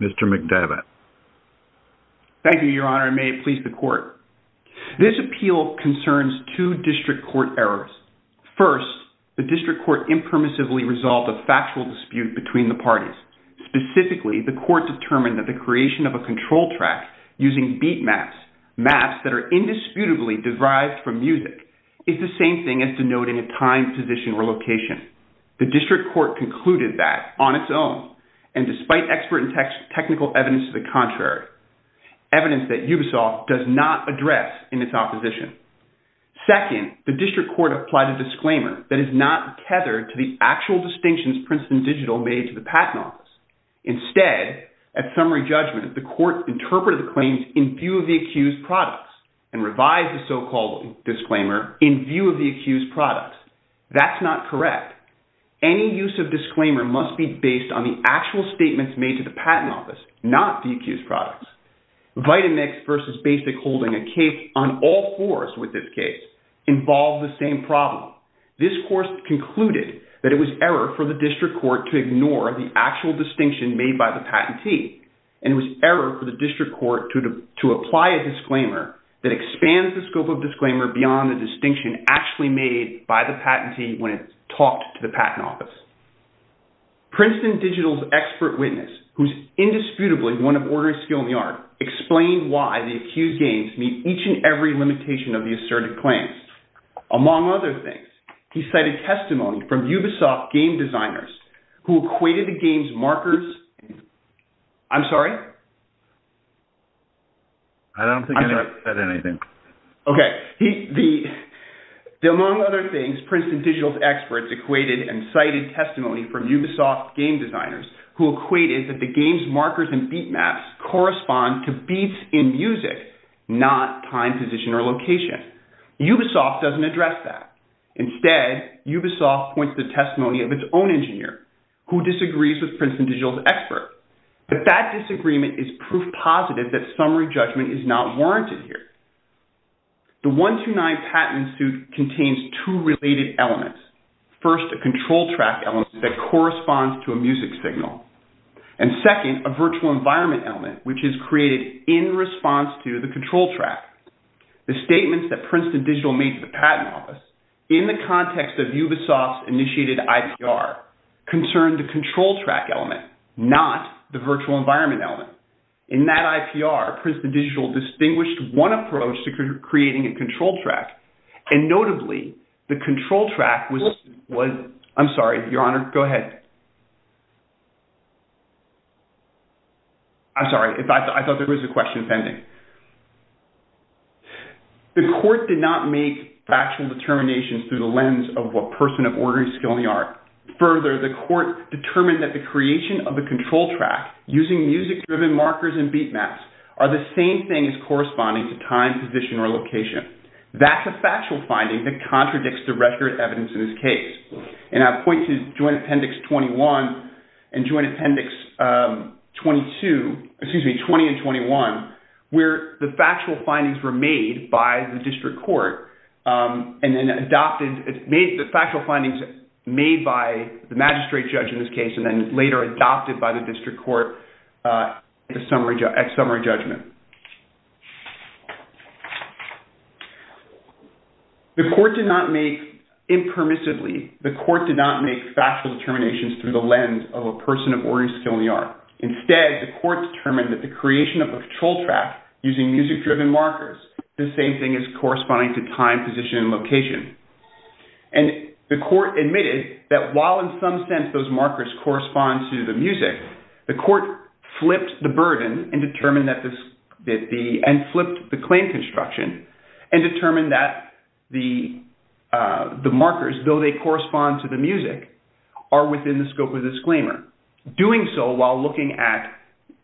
Mr. McDevitt. Thank you, Your Honor. I may please the court. This appeal concerns two district court errors. First, the district court impermissibly resolved a factual dispute between the parties. Specifically, the court determined that the creation of a control track using beat maps, maps that are indisputably derived from music, is the same thing as the denoting a time, position, or location. The district court concluded that, on its own, and despite expert and technical evidence to the contrary, evidence that Ubisoft does not address in its opposition. Second, the district court applied a disclaimer that is not tethered to the actual distinctions Princeton Digital made to the patent office. Instead, at summary judgment, the court interpreted the claims in view of the accused products and revised the so-called disclaimer in view of the accused products. That's not correct. Any use of disclaimer must be based on the actual statements made to the patent office, not the accused products. Vitamix v. Basic Holding, a case on all fours with this case, involved the same problem. This court concluded that it was error for the district court to ignore the actual distinction made by the patentee and it was error for the district court to apply a disclaimer that expands the scope of disclaimer beyond the distinction actually made by the patentee when it's talked to the patent office. Princeton Digital's expert witness, who's indisputably one of orderly skill in the art, explained why the accused games meet each and every limitation of the asserted claims. Among other things, he cited testimony from Ubisoft game designers who equated the game's I'm sorry? I don't think I said anything. Okay. Among other things, Princeton Digital's experts equated and cited testimony from Ubisoft game designers who equated that the game's markers and beat maps correspond to beats in music, not time, position, or location. Ubisoft doesn't address that. Instead, Ubisoft points to But that disagreement is proof positive that summary judgment is not warranted here. The 129 patent suit contains two related elements. First, a control track element that corresponds to a music signal. And second, a virtual environment element, which is created in response to the control track. The statements that Princeton Digital made to the patent office in the context of Ubisoft's initiated IPR concerned the control track element, not the virtual environment element. In that IPR, Princeton Digital distinguished one approach to creating a control track, and notably, the control track was I'm sorry, Your Honor, go ahead. I'm sorry. I thought there was a question pending. The court did not make factual determinations through the lens of what person of ordinary skill in the art. Further, the court determined that the creation of a control track using music-driven markers and beat maps are the same thing as corresponding to time, position, or location. That's a factual finding that contradicts the record evidence in this case. And I point to Joint Appendix 22, excuse me, 20 and 21, where the factual findings were made by the district court and then adopted, the factual findings made by the magistrate judge in this case and then later adopted by the district court at summary judgment. The court did not make, impermissibly, the court did not make factual determinations through the lens of a person of ordinary skill in the art. Instead, the court determined that the creation of a control track using music-driven markers is the same thing as corresponding to time, position, and location. And the court admitted that while in some sense those markers correspond to the music, the court flipped the burden and determined that the, and flipped the claim construction and determined that the markers, though they correspond to the music, are within the scope of the disclaimer. Doing so while looking at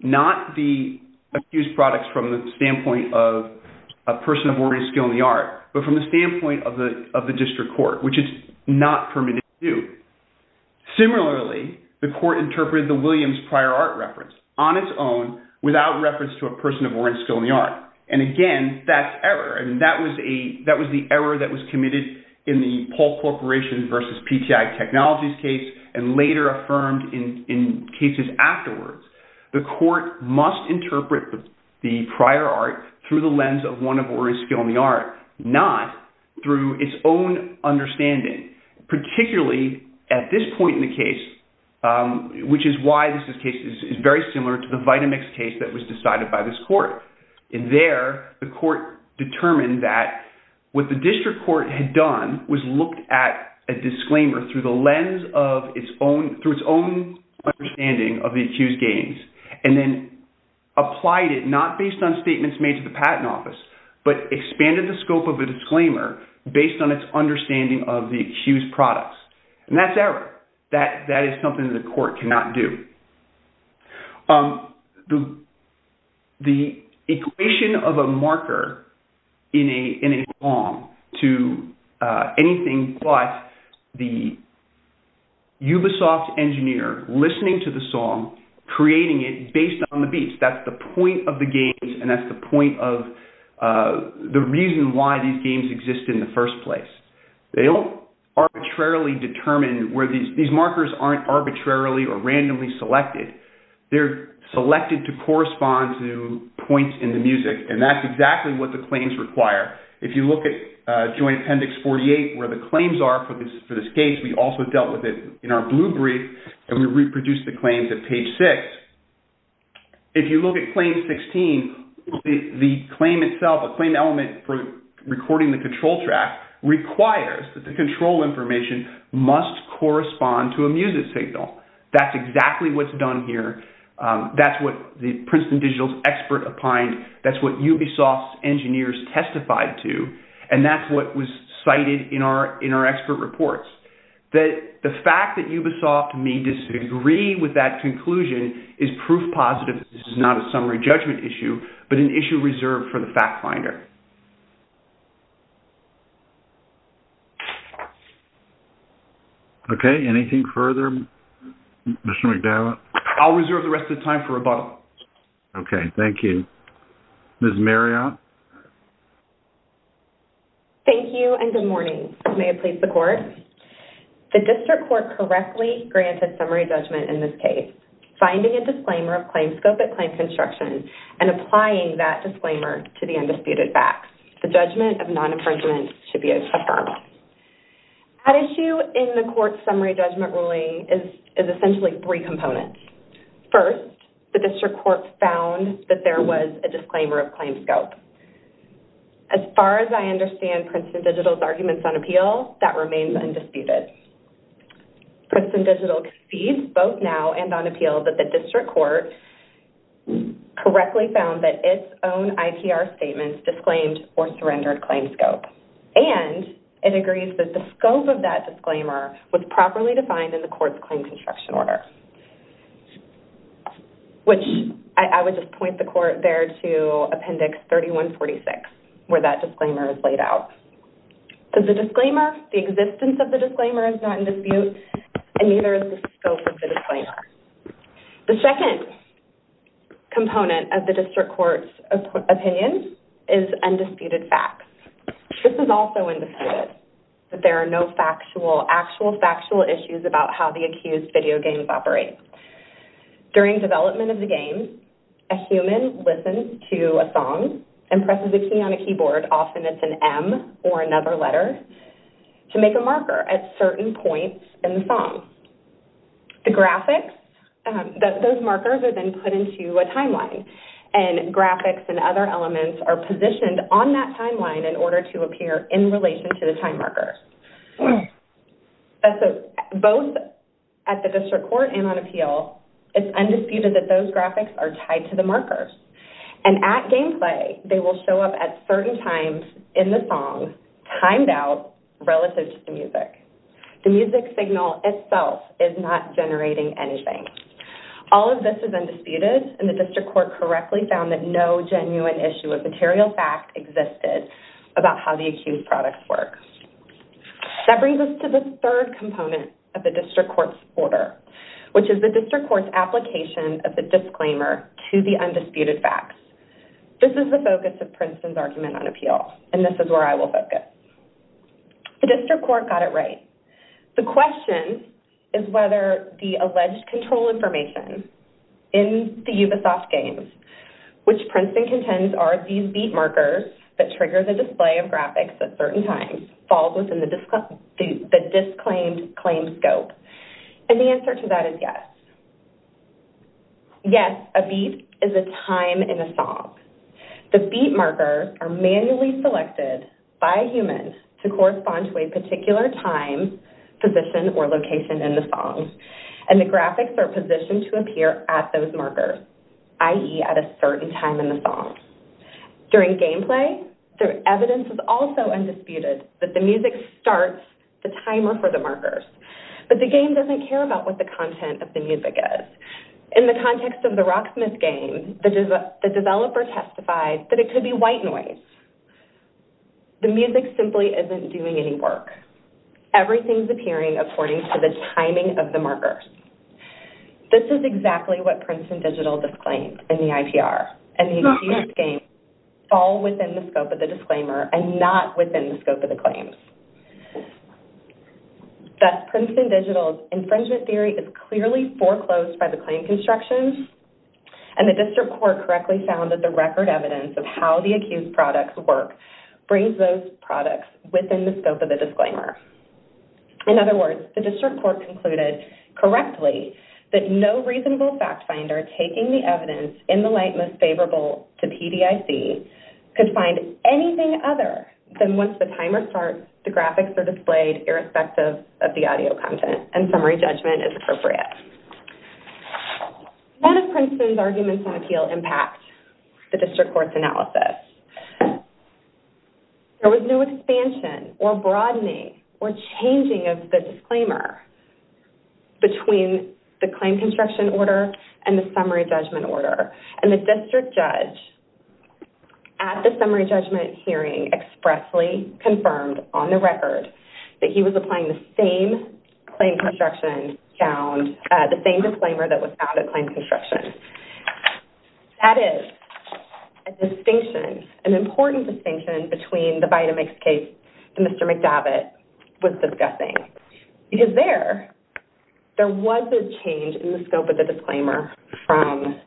not the accused products from the standpoint of a person of ordinary skill in the art, but from the standpoint of the district court, which is not permitted to do. Similarly, the court interpreted the prior, and that was the error that was committed in the Paul Corporation versus PTI Technologies case and later affirmed in cases afterwards. The court must interpret the prior art through the lens of one of ordinary skill in the art, not through its own understanding. Particularly at this point in the case, which is why this case was decided by this court. And there, the court determined that what the district court had done was looked at a disclaimer through the lens of its own, through its own understanding of the accused gains, and then applied it not based on statements made to the patent office, but expanded the scope of a disclaimer based on its understanding of the accused products. And that's error. That is something the court cannot do. The equation of a marker in a song to anything but the Ubisoft engineer listening to the song, creating it based on the beats, that's the point of the games, and that's the point of the games, and that's the reason why these games exist in the first place. They don't arbitrarily determine, these markers aren't arbitrarily or randomly selected. They're selected to correspond to points in the music, and that's exactly what the claims require. If you look at Joint Appendix 48, where the claims are for this case, we also dealt with it in our The claim itself, a claim element for recording the control track requires that the control information must correspond to a music signal. That's exactly what's done here. That's what the Princeton Digital's expert opined, that's what Ubisoft's engineers testified to, and that's what was cited in our expert reports. The fact that Ubisoft may Okay, anything further? Mr. McDowett? I'll reserve the rest of the time for rebuttal. Okay, thank you. Ms. Marriott? Thank you, and good morning. May it please the court? The district court correctly granted summary judgment in this case, finding a disclaimer of claims scope at claims construction, and applying that disclaimer to the undisputed facts. The judgment of non-infringement should be affirmed. At issue in the court's summary judgment ruling is essentially three components. First, the district court found that there was a disclaimer of claims scope. As far as I understand Princeton Digital's arguments on appeal, that remains undisputed. Princeton Digital concedes both now and on appeal that the district court correctly found that its own IPR statements disclaimed or surrendered claims scope. And it agrees that the scope of that disclaimer was properly defined in the court's claims construction order. Which I would just point the court there to appendix 3146, where that disclaimer is laid out. The existence of the disclaimer is not in dispute, and neither is the scope of the disclaimer. The second component of the district court's opinion is undisputed facts. This is also undisputed, that there are no actual factual issues about how the accused video games operate. During development of the game, a human listens to a song and presses a key on a keyboard, often it's an M or another letter, to make a marker at certain points in the song. The graphics, those markers are then put into a timeline. And graphics and other elements are positioned on that timeline in order to appear in relation to the time marker. Both at the district court and on appeal, it's undisputed that those graphics are tied to the markers. And at gameplay, they will show up at certain times in the song, timed out relative to the music. The music signal itself is not generating anything. All of this is undisputed, and the district court correctly found that no genuine issue of material fact existed about how the accused products work. That brings us to the third component of the district court's order, which is the district court's application of the disclaimer to the undisputed facts. This is the focus of Princeton's argument on appeal. And this is where I will focus. The district court got it right. The question is whether the alleged control information in the Ubisoft games, which Princeton contends are these beat markers that trigger the display of graphics at certain times, falls within the disclaimed claim scope. And the answer to that is yes. Yes, a beat is a time in a song. The beat markers are manually selected by humans to correspond to a particular time, position, or location in the song. And the graphics are positioned to appear at those markers. i.e. at a certain time in the song. During gameplay, the evidence is also undisputed that the music starts the timer for the markers. But the game doesn't care about what the content of the music is. In the context of the Rocksmith game, the developer testified that it could be white noise. The music simply isn't doing any work. Everything is appearing according to the timing of the markers. This is exactly what Princeton Digital disclaimed in the IPR. And the accused games fall within the scope of the disclaimer and not within the scope of the claims. Thus, Princeton Digital's infringement theory is clearly foreclosed by the claim construction. And the district court correctly found that the record evidence of how the accused products work brings those products within the scope of the disclaimer. In other words, the district court concluded correctly that no reasonable fact finder taking the evidence in the light most favorable to PDIC could find anything other than once the timer starts, the graphics are displayed irrespective of the audio content and summary judgment is appropriate. One of Princeton's arguments on appeal impacts the district court's analysis. There was no expansion or broadening or changing of the disclaimer between the claim construction order and the summary judgment order. And the district judge at the summary judgment hearing expressly confirmed on the record that he was applying the same claim construction, the same disclaimer that was found at claim construction. That is a distinction, an important distinction between the Vitamix case that Mr. McDavitt was discussing. Because there, there was a change in the scope of the disclaimer from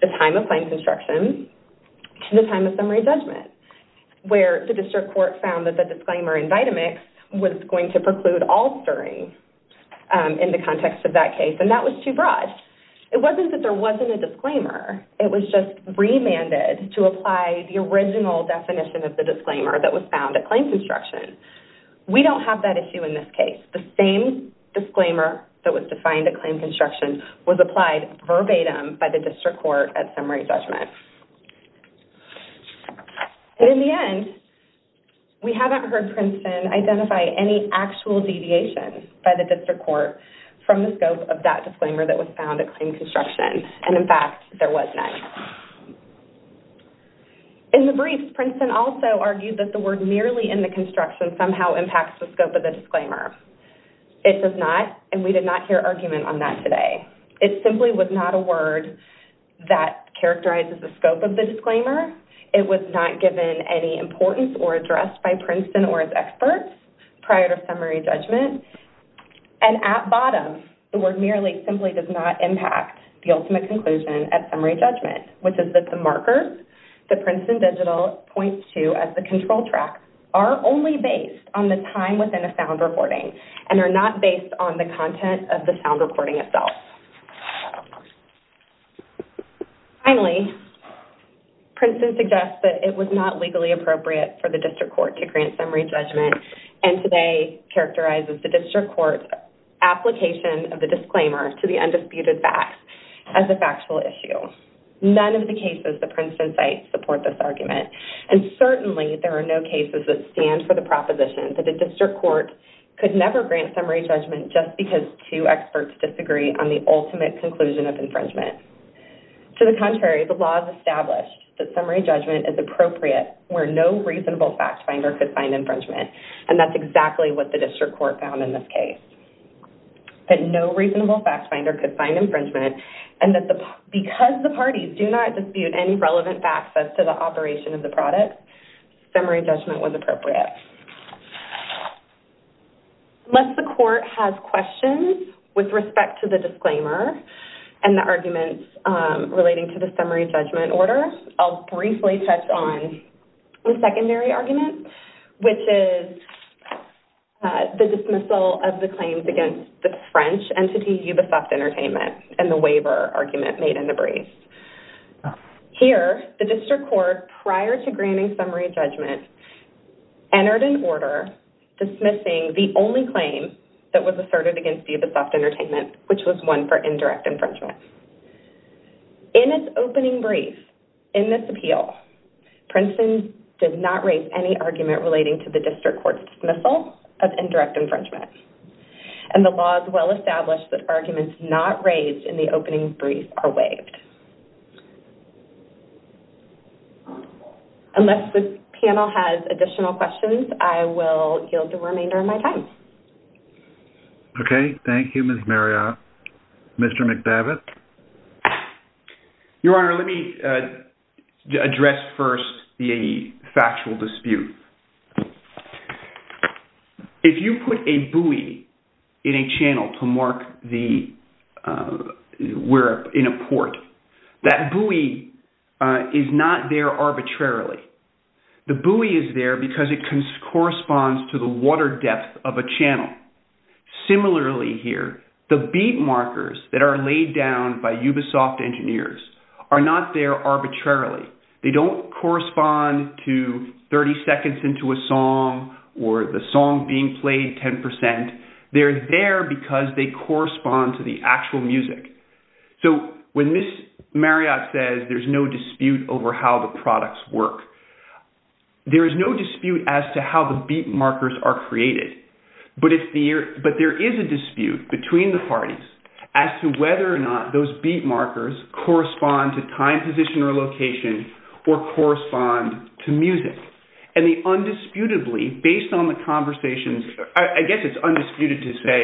the time of claim construction to the time of summary judgment. Where the district court found that the disclaimer in Vitamix was going to preclude all stirring in the context of that case. And that was too broad. It wasn't that there wasn't a disclaimer. It was just remanded to apply the original definition of the disclaimer that was found at claim construction. We don't have that issue in this case. The same disclaimer that was defined at claim construction was applied verbatim by the district court at summary judgment. And in the end, we haven't heard Princeton identify any actual deviations by the district court from the scope of that disclaimer that was found at claim construction. And in fact, there was none. In the brief, Princeton also argued that the word merely in the construction somehow impacts the scope of the disclaimer. It does not, and we did not hear argument on that today. It simply was not a word that characterizes the scope of the disclaimer. It was not given any importance or addressed by Princeton or its experts prior to summary judgment. And at bottom, the word merely simply does not impact the ultimate conclusion at summary judgment, which is that the markers that Princeton Digital points to as the control track are only based on the time within a sound recording and are not based on the content of the sound recording itself. Finally, Princeton suggests that it was not legally appropriate for the district court to grant summary judgment, and today characterizes the district court's application of the disclaimer to the undisputed facts as a factual issue. None of the cases that Princeton cites support this argument. And certainly, there are no cases that stand for the proposition that the district court could never grant summary judgment just because two experts disagree on the ultimate conclusion of infringement. To the contrary, the law has established that summary judgment is appropriate where no reasonable fact finder could find infringement, and that's exactly what the district court found in this case. That no reasonable fact finder could find infringement, and that because the court has questions with respect to the disclaimer and the arguments relating to the summary judgment order, I'll briefly touch on the secondary argument, which is the dismissal of the claims against the French entity Ubisoft Entertainment and the waiver argument made in the brief. Here, the district court, prior to granting summary judgment, entered an order dismissing the only claim that was asserted against Ubisoft Entertainment, which was one for indirect infringement. In its opening brief, in this appeal, Princeton did not raise any argument relating to the district court's dismissal of indirect infringement. And the law is well established that arguments not raised in the opening brief are waived. Unless this panel has additional questions, I will yield the remainder of my time. Okay. Thank you, Ms. Marriott. Mr. McDavid? Your Honor, let me address first the factual dispute. If you put a buoy in a channel to mark where in a port, that buoy is not there arbitrarily. The buoy is there because it corresponds to the water depth of a channel. Similarly here, the beat markers that are laid down by Ubisoft engineers are not there arbitrarily. They don't correspond to 30 seconds into a song or the song being played 10%. They are there because they correspond to the actual music. So when Ms. Marriott says there is no dispute over how the products work, there is no dispute as to how the beat markers are created. But there is a dispute between the parties as to whether or not those beat markers correspond to time, position, or location, or correspond to music. I guess it's undisputed to say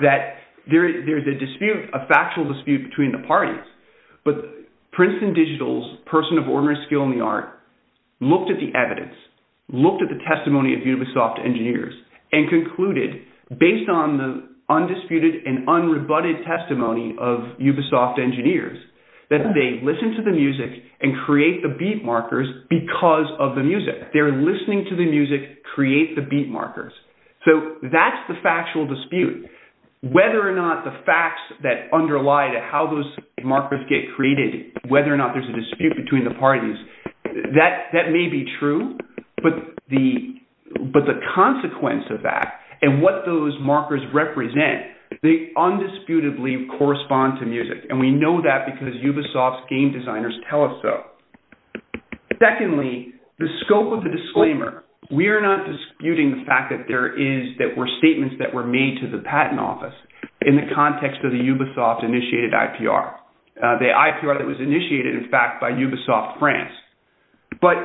that there is a factual dispute between the parties. But Princeton Digital's person of ordinary skill in the art looked at the evidence, looked at the testimony of Ubisoft engineers, and concluded, based on the undisputed and unrebutted testimony of Ubisoft engineers, that they listen to the music and create the beat markers because of the music. They are listening to the music, create the beat markers. So that's the factual dispute. Whether or not the facts that underlie how those markers get created, whether or not there is a dispute between the parties, that may be true. But the consequence of that and what those markers represent, they undisputedly correspond to music. And we know that because Ubisoft's game designers tell us so. Secondly, the scope of the disclaimer. We are not disputing the fact that there were statements that were made to the patent office in the context of the Ubisoft-initiated IPR. The IPR that was initiated, in fact, by Ubisoft France. But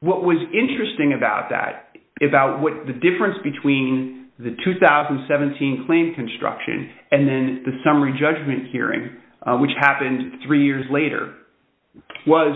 what was interesting about that, about the difference between the 2017 claim construction and then the summary judgment hearing, which happened three years later, was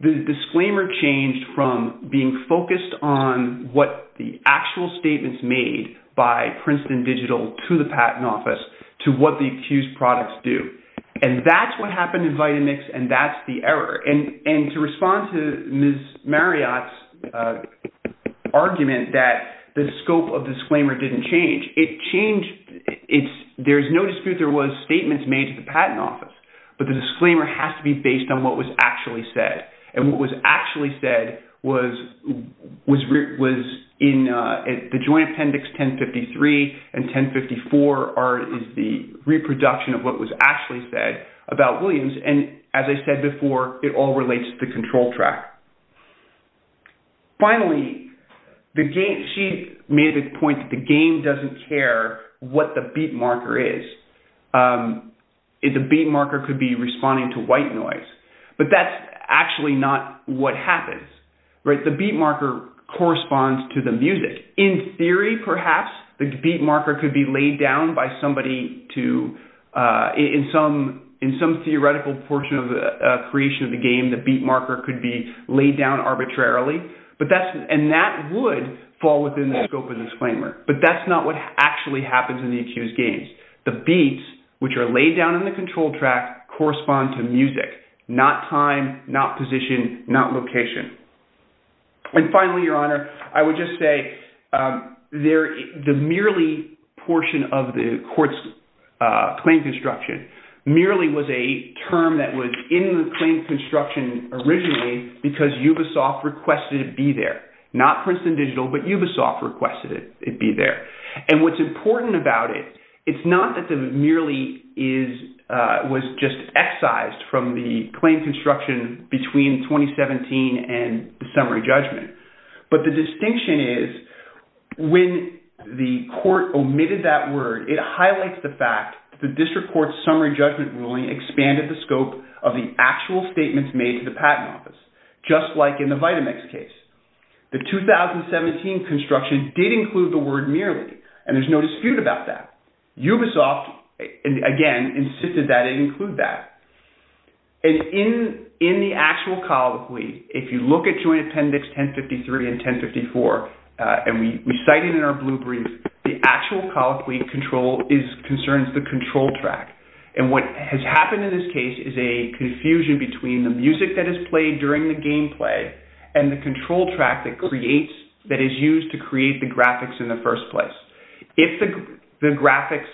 the disclaimer changed from being focused on what the actual statements made by Princeton Digital to the patent office, to what the accused products do. And that's what happened in Vitamix and that's the error. And to respond to Ms. Marriott's argument that the scope of the disclaimer didn't change, it changed, there's no dispute there was statements made to the patent office. But the disclaimer has to be based on what was actually said. And what was actually said was in the joint appendix 1053 and 1054 is the reproduction of what was actually said about Williams. And as I said before, it all relates to the control track. Finally, she made the point that the game doesn't care what the beat marker is. The beat marker could be responding to white noise. But that's actually not what happens. The beat marker corresponds to the music. In theory, perhaps the beat marker could be laid down by somebody to, in some theoretical portion of the creation of the game, the beat marker could be laid down arbitrarily. And that would fall within the scope of the disclaimer. But that's not what actually happens in the accused games. The beats which are laid down in the control track correspond to music, not time, not position, not location. And finally, Your Honor, I would just say the merely portion of the court's claim construction merely was a term that was in the claim construction originally because Ubisoft requested it be there. Not Princeton Digital, but Ubisoft requested it be there. And what's important about it, it's not that it merely was just excised from the claim construction between 2017 and the summary judgment. But the distinction is when the court omitted that word, it highlights the fact that the district court's summary judgment ruling expanded the scope of the actual statements made to the patent office, just like in the Vitamex case. The 2017 construction did include the word merely, and there's no dispute about that. Ubisoft, again, insisted that it include that. And in the actual colloquy, if you look at Joint Appendix 1053 and 1054, and we cite it in our case is a confusion between the music that is played during the game play and the control track that is used to create the graphics in the first place. The graphics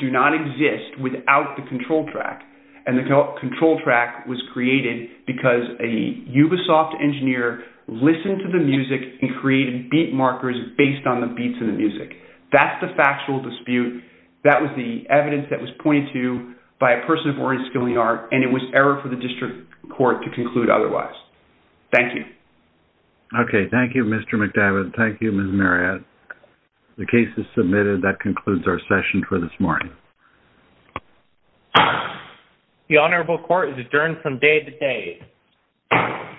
do not exist without the control track. And the control track was created because a Ubisoft engineer listened to the music and created beat markers based on the beats in the music. That's the factual dispute. That was the evidence that was pointed to by a person of oriented skill in the art, and it was error for the district court to conclude otherwise. Thank you. Okay. Thank you, Mr. McDivitt. Thank you, Ms. Marriott. The case is submitted. That concludes our session for this morning. The Honorable Court is adjourned from day to day.